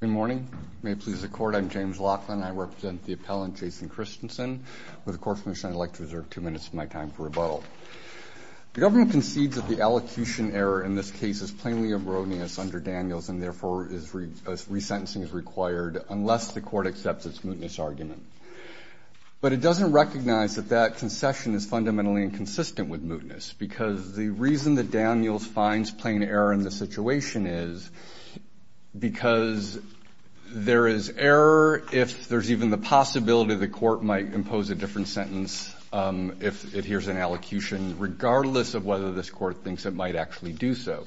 Good morning. May it please the court. I'm James Laughlin. I represent the appellant Jason Christensen. With the court's permission, I'd like to reserve two minutes of my time for rebuttal. The government concedes that the allocution error in this case is plainly erroneous under Daniels and therefore resentencing is required unless the court accepts its mootness argument. But it doesn't recognize that that concession is fundamentally inconsistent with mootness. Because the reason that Daniels finds plain error in the situation is because there is error if there's even the possibility the court might impose a different sentence if it hears an allocution, regardless of whether this court thinks it might actually do so.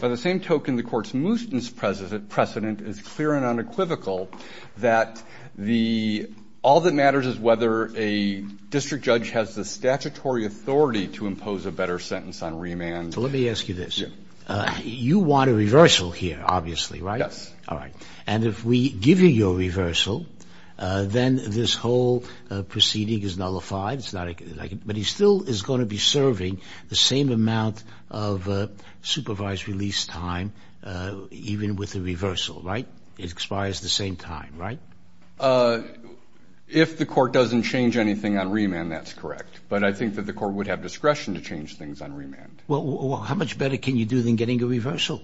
By the same token, the court's mootness precedent is clear and unequivocal that all that matters is whether a district judge has the statutory authority to impose a better sentence on remand. Let me ask you this. You want a reversal here, obviously, right? Yes. All right. And if we give you your reversal, then this whole proceeding is nullified, but he still is going to be serving the same amount of supervised release time even with the reversal, right? It expires the same time, right? If the court doesn't change anything on remand, that's correct. But I think that the court would have discretion to change things on remand. Well, how much better can you do than getting a reversal?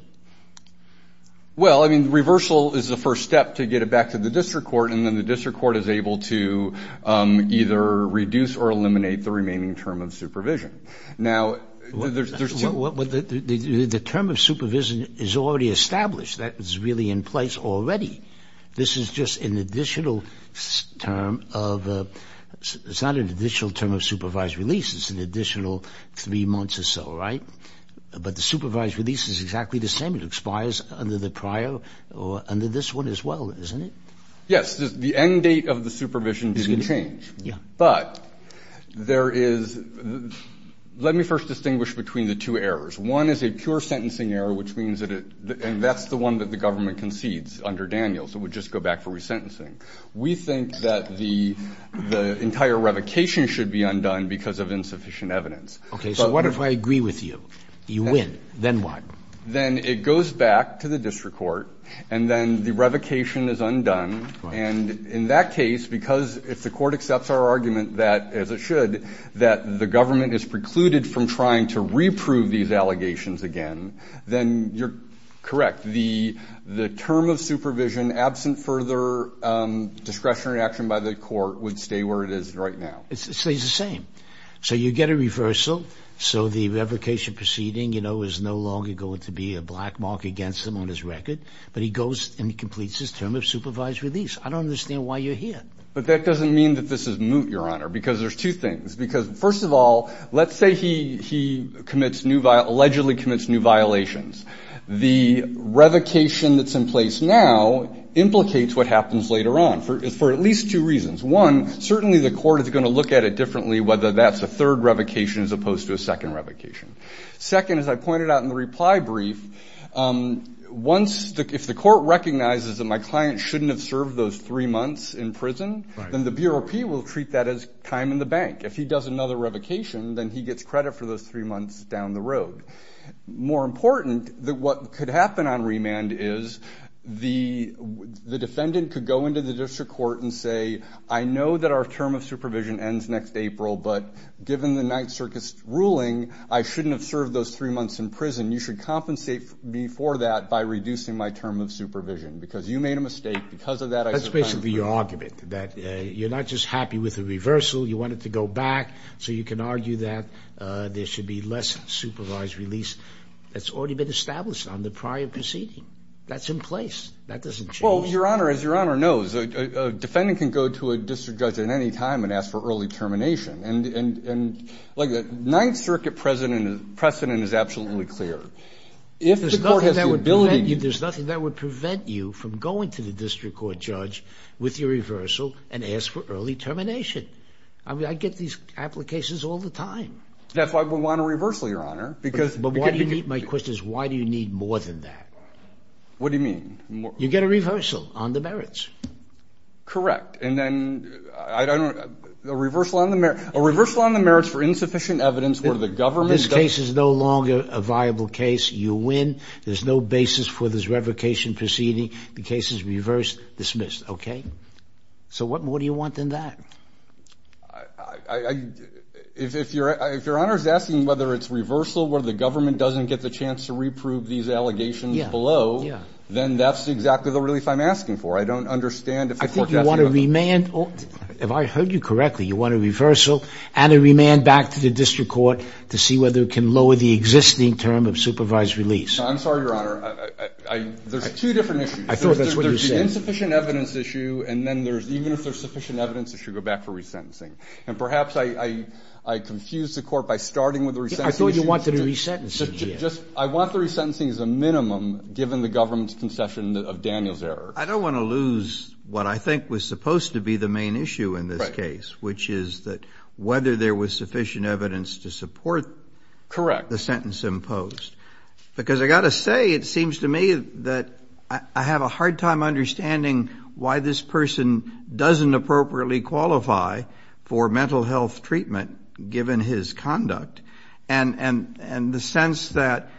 Well, I mean, reversal is the first step to get it back to the district court, and then the district court is able to either reduce or eliminate the remaining term of supervision. Now, there's two – Well, the term of supervision is already established. That is really in place already. This is just an additional term of – it's not an additional term of supervised release. It's an additional three months or so, right? But the supervised release is exactly the same. It expires under the prior or under this one as well, isn't it? Yes. The end date of the supervision didn't change. Yeah. But there is – let me first distinguish between the two errors. One is a pure sentencing error, which means that it – and that's the one that the government concedes under Daniels. It would just go back for resentencing. We think that the entire revocation should be undone because of insufficient evidence. Okay. So what if I agree with you? You win. Then what? Then it goes back to the district court, and then the revocation is undone. And in that case, because if the court accepts our argument that, as it should, that the government is precluded from trying to reprove these allegations again, then you're correct. The term of supervision, absent further discretionary action by the court, would stay where it is right now. It stays the same. So you get a reversal. So the revocation proceeding, you know, is no longer going to be a black mark against him on his record, but he goes and he completes his term of supervised release. I don't understand why you're here. But that doesn't mean that this is moot, Your Honor, because there's two things. Because, first of all, let's say he commits new – allegedly commits new violations. The revocation that's in place now implicates what happens later on for at least two reasons. One, certainly the court is going to look at it differently, whether that's a third revocation as opposed to a second revocation. Second, as I pointed out in the reply brief, once – if the court recognizes that my client shouldn't have served those three months in prison, then the BROP will treat that as time in the bank. If he does another revocation, then he gets credit for those three months down the road. More important, what could happen on remand is the defendant could go into the district court and say, I know that our term of supervision ends next April, but given the Ninth Circus ruling, I shouldn't have served those three months in prison. You should compensate me for that by reducing my term of supervision because you made a mistake. Because of that, I should – That's basically your argument, that you're not just happy with the reversal. You want it to go back. So you can argue that there should be less supervised release that's already been established on the prior proceeding. That's in place. That doesn't change. Well, Your Honor, as Your Honor knows, a defendant can go to a district judge at any time and ask for early termination. And like the Ninth Circuit precedent is absolutely clear. If the court has the ability – There's nothing that would prevent you from going to the district court judge with your reversal and ask for early termination. I get these applications all the time. That's why we want a reversal, Your Honor. But my question is why do you need more than that? What do you mean? You get a reversal on the merits. Correct. And then a reversal on the merits for insufficient evidence where the government – This case is no longer a viable case. You win. There's no basis for this revocation proceeding. The case is reversed, dismissed. Okay? So what more do you want than that? If Your Honor is asking whether it's reversal where the government doesn't get the chance to reprove these allegations below, then that's exactly the relief I'm asking for. I don't understand if the court – I think you want a remand. If I heard you correctly, you want a reversal and a remand back to the district court to see whether it can lower the existing term of supervised release. I'm sorry, Your Honor. There's two different issues. I thought that's what you said. The insufficient evidence issue and then there's – even if there's sufficient evidence, it should go back for resentencing. And perhaps I confused the court by starting with the resentencing issue. I thought you wanted a resentencing. I want the resentencing as a minimum given the government's concession of Daniel's error. I don't want to lose what I think was supposed to be the main issue in this case, which is that whether there was sufficient evidence to support the sentence imposed. Because I've got to say, it seems to me that I have a hard time understanding why this person doesn't appropriately qualify for mental health treatment given his conduct. And the sense that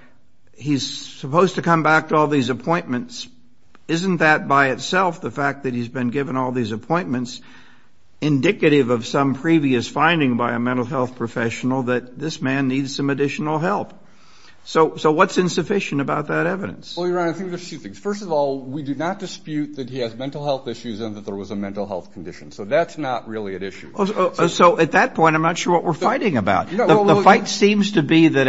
he's supposed to come back to all these appointments, isn't that by itself the fact that he's been given all these appointments indicative of some previous finding by a mental health professional that this man needs some additional help? So what's insufficient about that evidence? Well, Your Honor, I think there's two things. First of all, we do not dispute that he has mental health issues and that there was a mental health condition. So that's not really at issue. So at that point, I'm not sure what we're fighting about. The fight seems to be that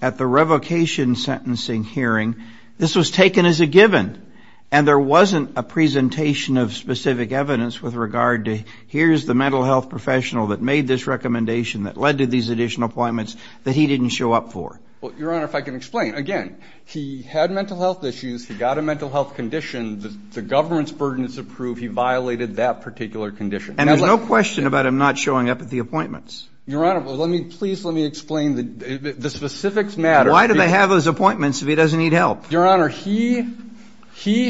at the revocation sentencing hearing, this was taken as a given and there wasn't a presentation of specific evidence with regard to here's the mental health professional that made this recommendation that led to these additional appointments that he didn't show up for. Well, Your Honor, if I can explain. Again, he had mental health issues. He got a mental health condition. The government's burden is approved. He violated that particular condition. And there's no question about him not showing up at the appointments. Your Honor, please let me explain. The specifics matter. Why do they have those appointments if he doesn't need help? Your Honor, he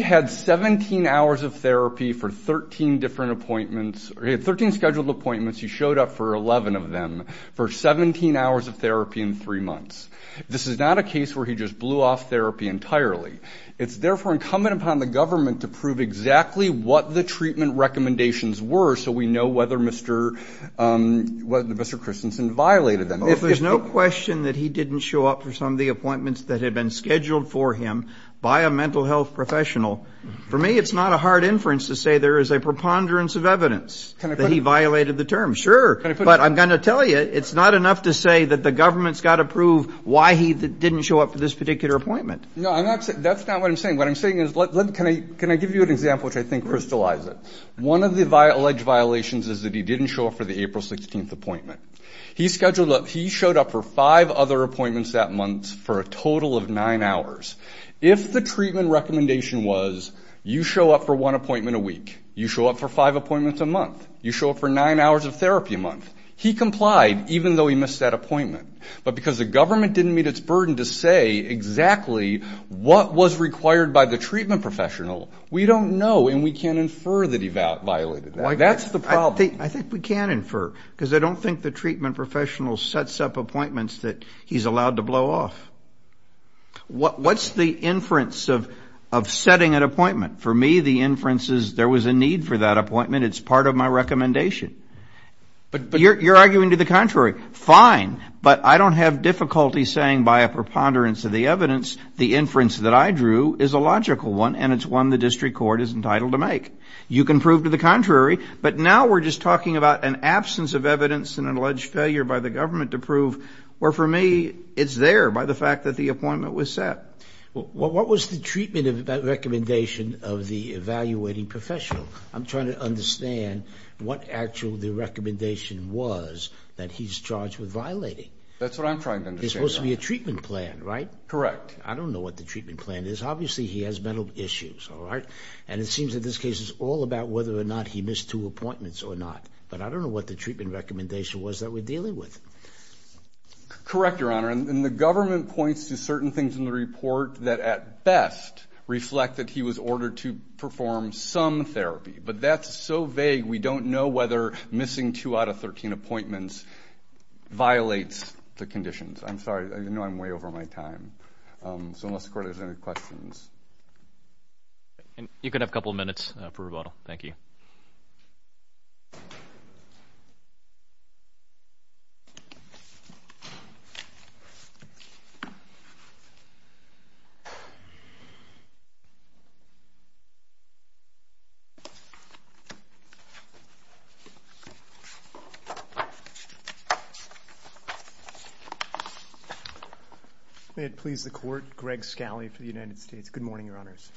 had 17 hours of therapy for 13 different appointments. He had 13 scheduled appointments. He showed up for 11 of them for 17 hours of therapy in three months. This is not a case where he just blew off therapy entirely. It's therefore incumbent upon the government to prove exactly what the treatment recommendations were so we know whether Mr. Christensen violated them. If there's no question that he didn't show up for some of the appointments that had been scheduled for him by a mental health professional, for me it's not a hard inference to say there is a preponderance of evidence that he violated the terms. Sure, but I'm going to tell you, it's not enough to say that the government's got to prove why he didn't show up for this particular appointment. No, that's not what I'm saying. What I'm saying is, can I give you an example which I think crystallizes it? One of the alleged violations is that he didn't show up for the April 16th appointment. He showed up for five other appointments that month for a total of nine hours. If the treatment recommendation was you show up for one appointment a week, you show up for five appointments a month, you show up for nine hours of therapy a month. He complied, even though he missed that appointment. But because the government didn't meet its burden to say exactly what was required by the treatment professional, we don't know and we can't infer that he violated that. That's the problem. I think we can infer, because I don't think the treatment professional sets up appointments that he's allowed to blow off. What's the inference of setting an appointment? For me, the inference is there was a need for that appointment. It's part of my recommendation. You're arguing to the contrary. Fine, but I don't have difficulty saying by a preponderance of the evidence the inference that I drew is a logical one and it's one the district court is entitled to make. You can prove to the contrary, but now we're just talking about an absence of evidence and an alleged failure by the government to prove where, for me, it's there by the fact that the appointment was set. What was the treatment recommendation of the evaluating professional? I'm trying to understand what actually the recommendation was that he's charged with violating. That's what I'm trying to understand. There's supposed to be a treatment plan, right? Correct. I don't know what the treatment plan is. Obviously, he has mental issues, all right? And it seems that this case is all about whether or not he missed two appointments or not. But I don't know what the treatment recommendation was that we're dealing with. Correct, Your Honor. And the government points to certain things in the report that at best reflect that he was ordered to perform some therapy. But that's so vague we don't know whether missing two out of 13 appointments violates the conditions. I'm sorry. I know I'm way over my time. So unless the court has any questions. You can have a couple minutes for rebuttal. Thank you. May it please the court. Greg Scali for the United States. Good morning, Your Honors.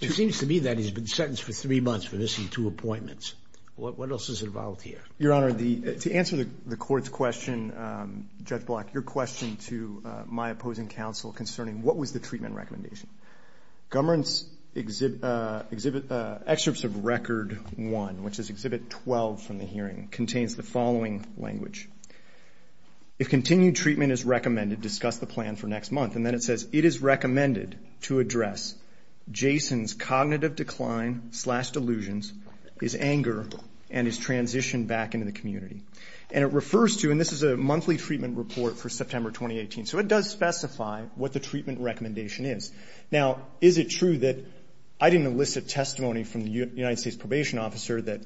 It seems to me that he's been sentenced for three months for missing two appointments. What else is involved here? Your Honor, to answer the court's question, Judge Block, your question to my opposing counsel concerning what was the treatment recommendation. Government's Excerpts of Record 1, which is Exhibit 12 from the hearing, contains the following language. If continued treatment is recommended, discuss the plan for next month. And then it says, it is recommended to address Jason's cognitive decline slash delusions, his anger, and his transition back into the community. And it refers to, and this is a monthly treatment report for September 2018. So it does specify what the treatment recommendation is. Now, is it true that I didn't elicit testimony from the United States Probation Officer that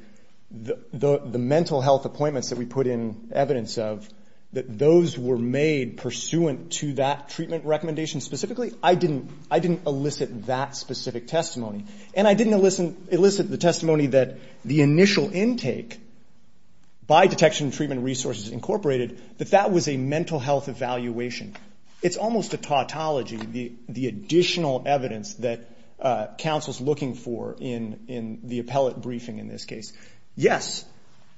the mental health appointments that we put in evidence of, that those were made pursuant to that treatment recommendation specifically? I didn't elicit that specific testimony. And I didn't elicit the testimony that the initial intake by Detection and Treatment Resources Incorporated, that that was a mental health evaluation. It's almost a tautology, the additional evidence that counsel's looking for in the appellate briefing in this case. Yes,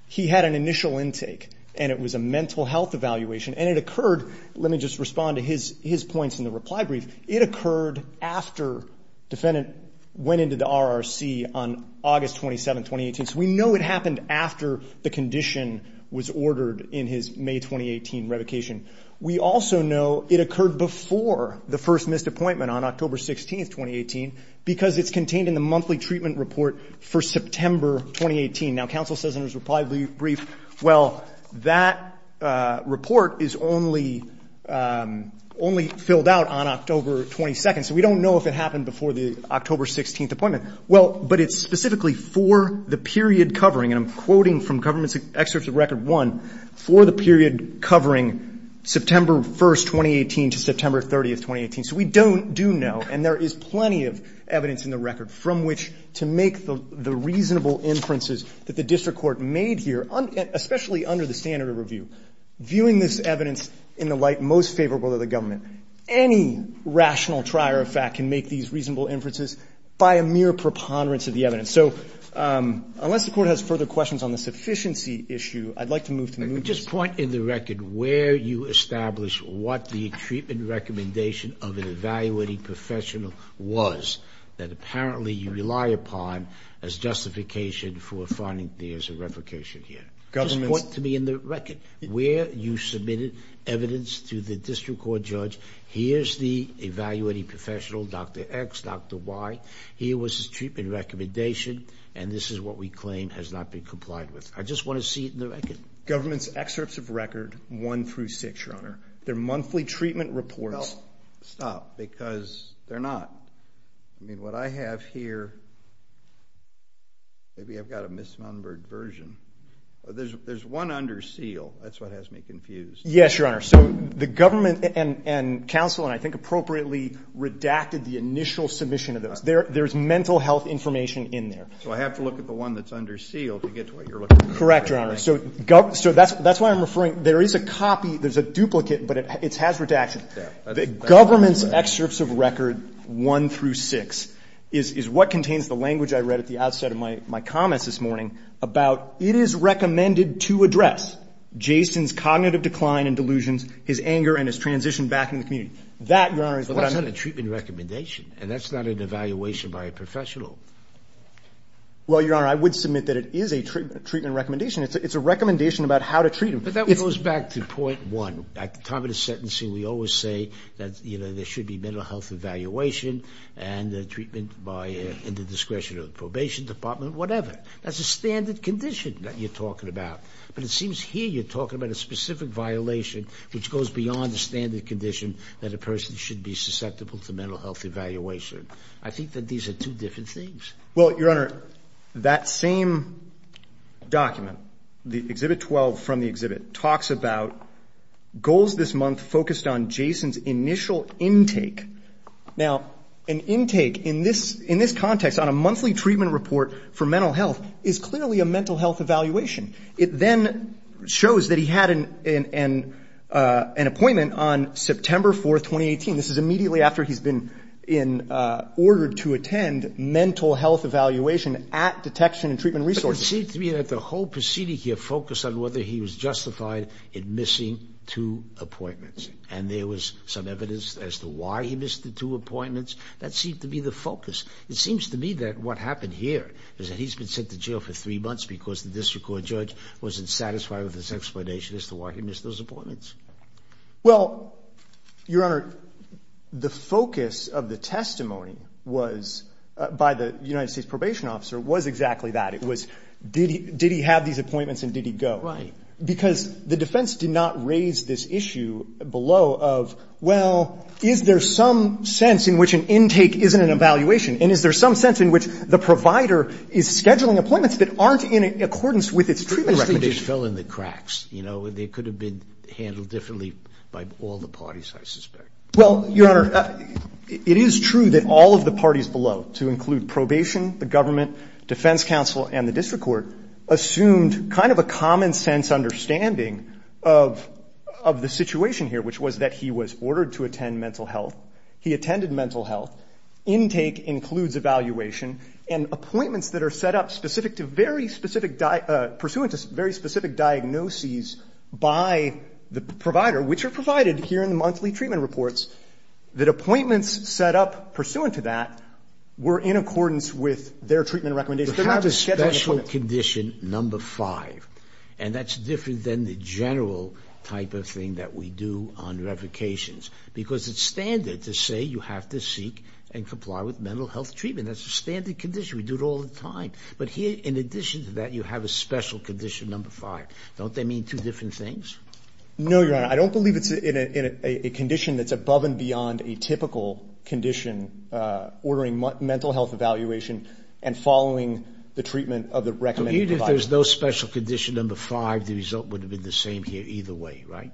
he had an initial intake, and it was a mental health evaluation. And it occurred, let me just respond to his points in the reply brief, it occurred after defendant went into the RRC on August 27, 2018. So we know it happened after the condition was ordered in his May 2018 revocation. We also know it occurred before the first missed appointment on October 16, 2018, because it's contained in the monthly treatment report for September 2018. Now, counsel says in his reply brief, well, that report is only filled out on October 22. So we don't know if it happened before the October 16 appointment. Well, but it's specifically for the period covering, and I'm quoting from government's excerpts of Record 1, for the period covering September 1, 2018 to September 30, 2018. So we don't do know, and there is plenty of evidence in the record from which to make the reasonable inferences that the district court made here, especially under the standard of review, viewing this evidence in the light most favorable to the government. Any rational trier of fact can make these reasonable inferences by a mere preponderance of the evidence. So unless the Court has further questions on the sufficiency issue, I'd like to move to the next. Just point in the record where you established what the treatment recommendation of an evaluating professional was that apparently you rely upon as justification for finding there's a revocation here. Just point to me in the record where you submitted evidence to the district court judge. Here's the evaluating professional, Dr. X, Dr. Y. Here was his treatment recommendation, and this is what we claim has not been complied with. I just want to see it in the record. Government's excerpts of Record 1 through 6, Your Honor. They're monthly treatment reports. Stop, because they're not. I mean, what I have here, maybe I've got a misnumbered version. There's one under seal. That's what has me confused. Yes, Your Honor. So the government and counsel, and I think appropriately, redacted the initial submission of those. There's mental health information in there. So I have to look at the one that's under seal to get to what you're looking for. Correct, Your Honor. So that's why I'm referring, there is a copy, there's a duplicate, but it's hazard to action. Government's excerpts of Record 1 through 6 is what contains the language I read at the outset of my comments this morning about it is recommended to address Jason's cognitive decline and delusions, his anger and his transition back into the community. That, Your Honor, is what I'm looking for. And that's not an evaluation by a professional. Well, Your Honor, I would submit that it is a treatment recommendation. It's a recommendation about how to treat him. But that goes back to point one. At the time of the sentencing, we always say that there should be mental health evaluation and the treatment in the discretion of the probation department, whatever. That's a standard condition that you're talking about. But it seems here you're talking about a specific violation which goes beyond the standard condition that a person should be susceptible to mental health evaluation. I think that these are two different things. Well, Your Honor, that same document, Exhibit 12 from the exhibit, talks about goals this month focused on Jason's initial intake. Now, an intake in this context on a monthly treatment report for mental health is clearly a mental health evaluation. It then shows that he had an appointment on September 4, 2018. This is immediately after he's been ordered to attend mental health evaluation at Detection and Treatment Resources. But it seems to me that the whole proceeding here focused on whether he was justified in missing two appointments. And there was some evidence as to why he missed the two appointments. That seemed to be the focus. It seems to me that what happened here is that he's been sent to jail for three months because the district court judge wasn't satisfied with his explanation as to why he missed those appointments. Well, Your Honor, the focus of the testimony was, by the United States Probation Officer, was exactly that. It was did he have these appointments and did he go? Right. Because the defense did not raise this issue below of, well, is there some sense in which an intake isn't an evaluation? And is there some sense in which the provider is scheduling appointments that aren't in accordance with its treatment recommendation? I think they just fell in the cracks. You know, they could have been handled differently by all the parties, I suspect. Well, Your Honor, it is true that all of the parties below, to include probation, the government, defense counsel, and the district court, assumed kind of a common sense understanding of the situation here, which was that he was ordered to attend mental health. He attended mental health. Intake includes evaluation. And appointments that are set up specific to very specific, pursuant to very specific diagnoses by the provider, which are provided here in the monthly treatment reports, that appointments set up pursuant to that were in accordance with their treatment recommendations. They're not scheduled appointments. And that's different than the general type of thing that we do on revocations. Because it's standard to say you have to seek and comply with mental health treatment. That's a standard condition. We do it all the time. But here, in addition to that, you have a special condition, number five. Don't they mean two different things? No, Your Honor. I don't believe it's in a condition that's above and beyond a typical condition, ordering mental health evaluation and following the treatment of the recommended provider. Even if there's no special condition number five, the result would have been the same here either way, right?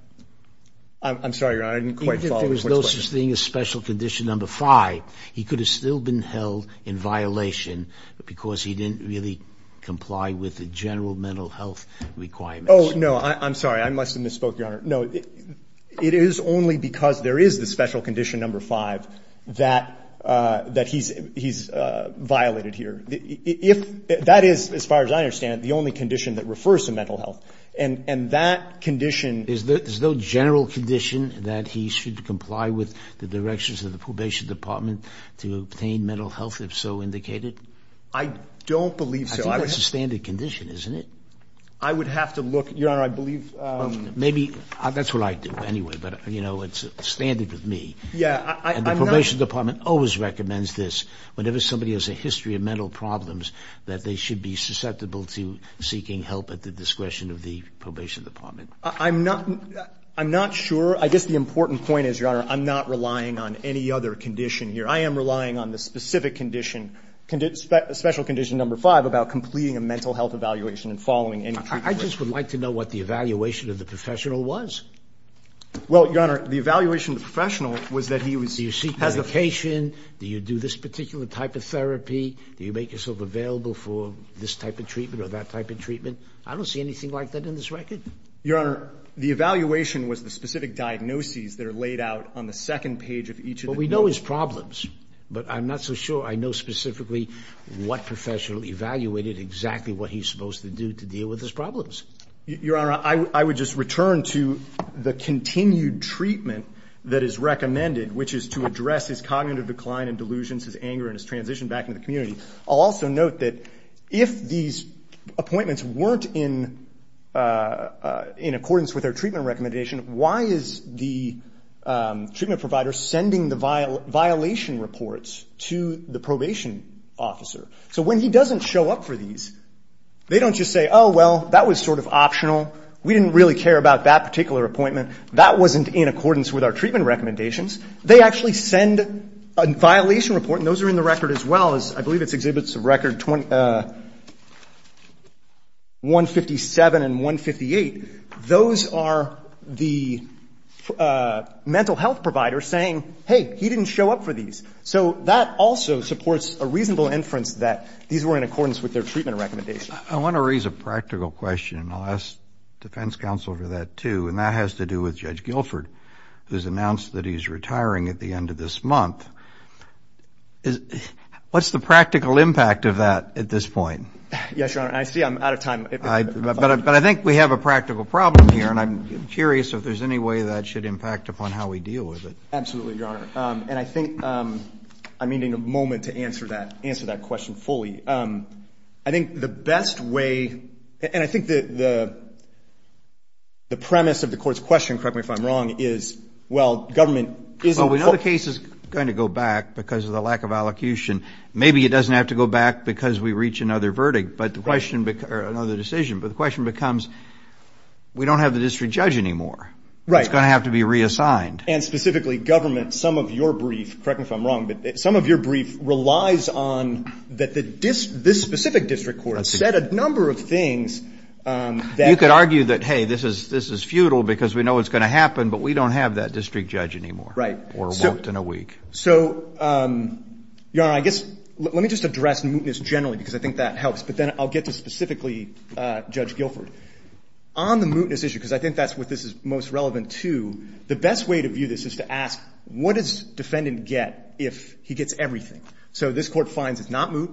I'm sorry, Your Honor. I didn't quite follow the first question. Even if there was no such thing as special condition number five, he could have still been held in violation because he didn't really comply with the general mental health requirements. I'm sorry. I must have misspoke, Your Honor. No. It is only because there is the special condition number five that he's violated here. That is, as far as I understand, the only condition that refers to mental health. And that condition — Is there no general condition that he should comply with the directions of the probation department to obtain mental health, if so indicated? I don't believe so. I think that's a standard condition, isn't it? I would have to look. Your Honor, I believe — That's what I do anyway. But, you know, it's a standard with me. Yeah. And the probation department always recommends this. Whenever somebody has a history of mental problems, that they should be susceptible to seeking help at the discretion of the probation department. I'm not sure. I guess the important point is, Your Honor, I'm not relying on any other condition here. I am relying on the specific condition, special condition number five, about completing a mental health evaluation and following any treatment. I just would like to know what the evaluation of the professional was. Well, Your Honor, the evaluation of the professional was that he was — Do you seek medication? Do you do this particular type of therapy? Do you make yourself available for this type of treatment or that type of treatment? I don't see anything like that in this record. Your Honor, the evaluation was the specific diagnoses that are laid out on the second page of each of the — Your Honor, I would just return to the continued treatment that is recommended, which is to address his cognitive decline and delusions, his anger and his transition back into the community. I'll also note that if these appointments weren't in accordance with their treatment recommendation, why is the treatment provider sending the violation reports to the probation officer? So when he doesn't show up for these, they don't just say, Oh, well, that was sort of optional. We didn't really care about that particular appointment. That wasn't in accordance with our treatment recommendations. They actually send a violation report, and those are in the record as well. I believe it exhibits record 157 and 158. Those are the mental health providers saying, Hey, he didn't show up for these. So that also supports a reasonable inference that these were in accordance with their treatment recommendations. I want to raise a practical question, and I'll ask defense counsel for that too, and that has to do with Judge Guilford, who has announced that he's retiring at the end of this month. What's the practical impact of that at this point? Yes, Your Honor. I see I'm out of time. But I think we have a practical problem here, and I'm curious if there's any way that should impact upon how we deal with it. Absolutely, Your Honor. And I think I'm needing a moment to answer that question fully. I think the best way, and I think the premise of the court's question, correct me if I'm wrong, is, well, government isn't. Well, we know the case is going to go back because of the lack of allocution. Maybe it doesn't have to go back because we reach another verdict or another decision, but the question becomes, we don't have the district judge anymore. Right. It's going to have to be reassigned. And specifically, government, some of your brief, correct me if I'm wrong, but some of your brief relies on that this specific district court said a number of things that. You could argue that, hey, this is futile because we know what's going to happen, but we don't have that district judge anymore. Right. Or won't in a week. So, Your Honor, I guess let me just address mootness generally because I think that helps, but then I'll get to specifically Judge Guilford. On the mootness issue, because I think that's what this is most relevant to, the best way to view this is to ask, what does defendant get if he gets everything? So this Court finds it's not moot.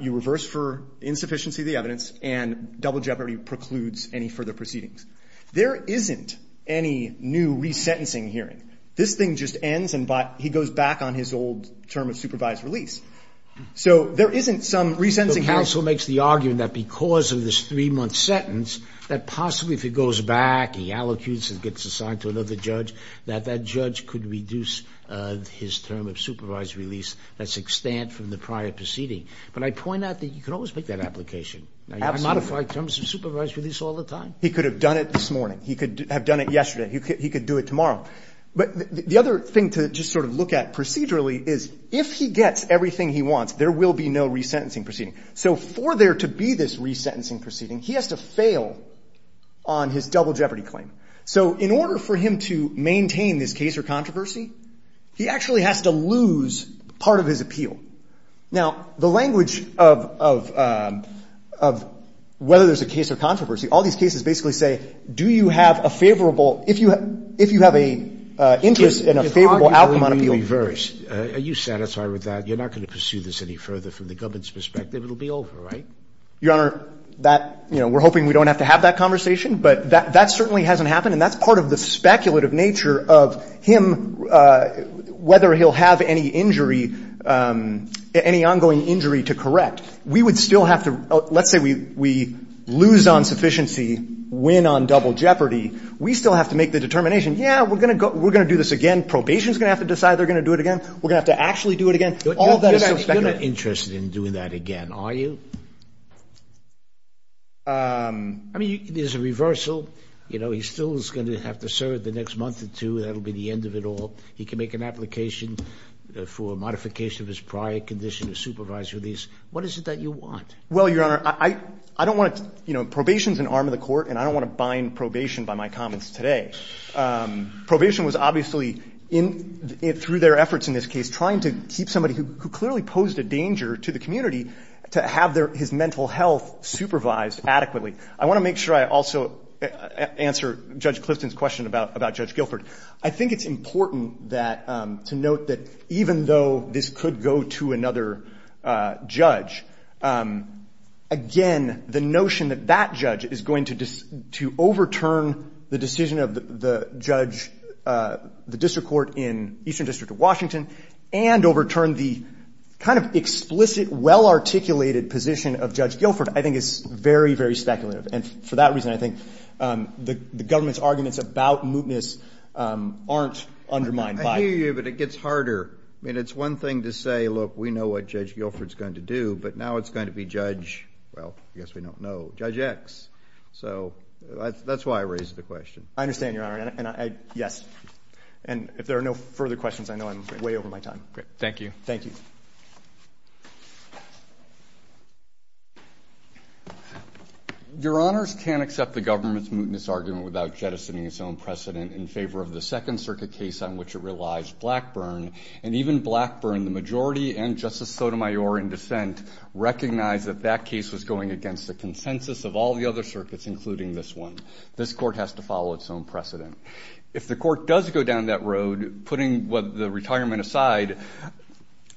You reverse for insufficiency of the evidence, and double jeopardy precludes any further proceedings. There isn't any new resentencing hearing. This thing just ends and he goes back on his old term of supervised release. So there isn't some resentencing hearing. He also makes the argument that because of this three-month sentence, that possibly if he goes back, he allocutes and gets assigned to another judge, that that judge could reduce his term of supervised release. That's extant from the prior proceeding. But I point out that you can always make that application. I modify terms of supervised release all the time. He could have done it this morning. He could have done it yesterday. He could do it tomorrow. But the other thing to just sort of look at procedurally is if he gets everything he wants, there will be no resentencing proceeding. So for there to be this resentencing proceeding, he has to fail on his double jeopardy claim. So in order for him to maintain this case or controversy, he actually has to lose part of his appeal. Now, the language of whether there's a case or controversy, all these cases basically say do you have a favorable, if you have a interest and a favorable outcome on appeal. So if he's going to be reversed, are you satisfied with that? You're not going to pursue this any further from the government's perspective. It will be over, right? Your Honor, that we're hoping we don't have to have that conversation, but that certainly hasn't happened. And that's part of the speculative nature of him, whether he'll have any injury, any ongoing injury to correct. We would still have to let's say we lose on sufficiency, win on double jeopardy. We still have to make the determination, yeah, we're going to do this again. Probation is going to have to decide they're going to do it again. We're going to have to actually do it again. All of that is so speculative. You're not interested in doing that again, are you? I mean, there's a reversal. You know, he still is going to have to serve the next month or two. That will be the end of it all. He can make an application for a modification of his prior condition of supervisory lease. What is it that you want? Well, Your Honor, I don't want to – you know, probation is an arm of the court, and I don't want to bind probation by my comments today. Probation was obviously, through their efforts in this case, trying to keep somebody who clearly posed a danger to the community to have his mental health supervised adequately. I want to make sure I also answer Judge Clifton's question about Judge Guilford. I think it's important to note that even though this could go to another judge, again, the notion that that judge is going to overturn the decision of the judge, the district court in Eastern District of Washington, and overturn the kind of explicit, well-articulated position of Judge Guilford, I think is very, very speculative. And for that reason, I think the government's arguments about mootness aren't undermined. I hear you, but it gets harder. I mean, it's one thing to say, look, we know what Judge Guilford's going to do, but now it's going to be Judge – well, I guess we don't know – Judge X. So that's why I raised the question. I understand, Your Honor, and I – yes. And if there are no further questions, I know I'm way over my time. Great. Thank you. Thank you. Your Honors can't accept the government's mootness argument without jettisoning its own precedent in favor of the Second Circuit case on which it relies, Blackburn. And even Blackburn, the majority, and Justice Sotomayor in dissent, recognize that that case was going against the consensus of all the other circuits, including this one. This court has to follow its own precedent. If the court does go down that road, putting the retirement aside,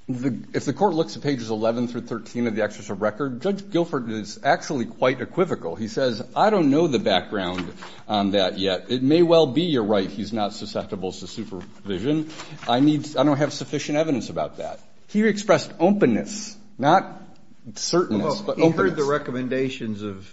if the court looks at pages 11 through 13 of the Executive Record, Judge Guilford is actually quite equivocal. He says, I don't know the background on that yet. It may well be you're right, he's not susceptible to supervision. I need – I don't have sufficient evidence about that. He expressed openness, not certainness, but openness. Well, he heard the recommendations of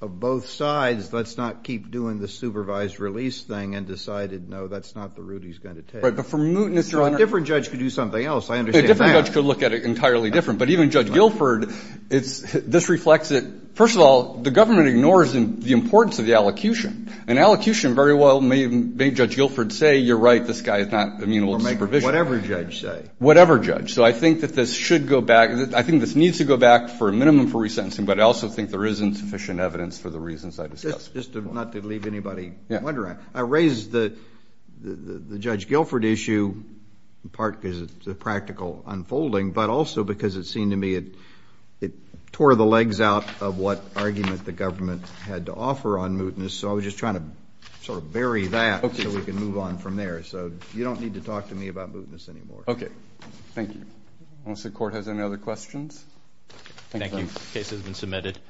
both sides, let's not keep doing the supervised release thing and decided, no, that's not the route he's going to take. Right, but for mootness – A different judge could do something else. I understand that. A different judge could look at it entirely different. But even Judge Guilford, it's – this reflects that, first of all, the government ignores the importance of the allocution. An allocution very well may make Judge Guilford say, you're right, this guy is not immunable to supervision. Or make whatever judge say. Whatever judge. So I think that this should go back – I think this needs to go back for a minimum for resentencing, but I also think there isn't sufficient evidence for the reasons I discussed before. Just to – not to leave anybody wondering, I raised the Judge Guilford issue in part because it's a practical unfolding, but also because it seemed to me it tore the legs out of what argument the government had to offer on mootness. So I was just trying to sort of bury that so we can move on from there. So you don't need to talk to me about mootness anymore. Okay. Thank you. Unless the Court has any other questions. Thank you. Thank you.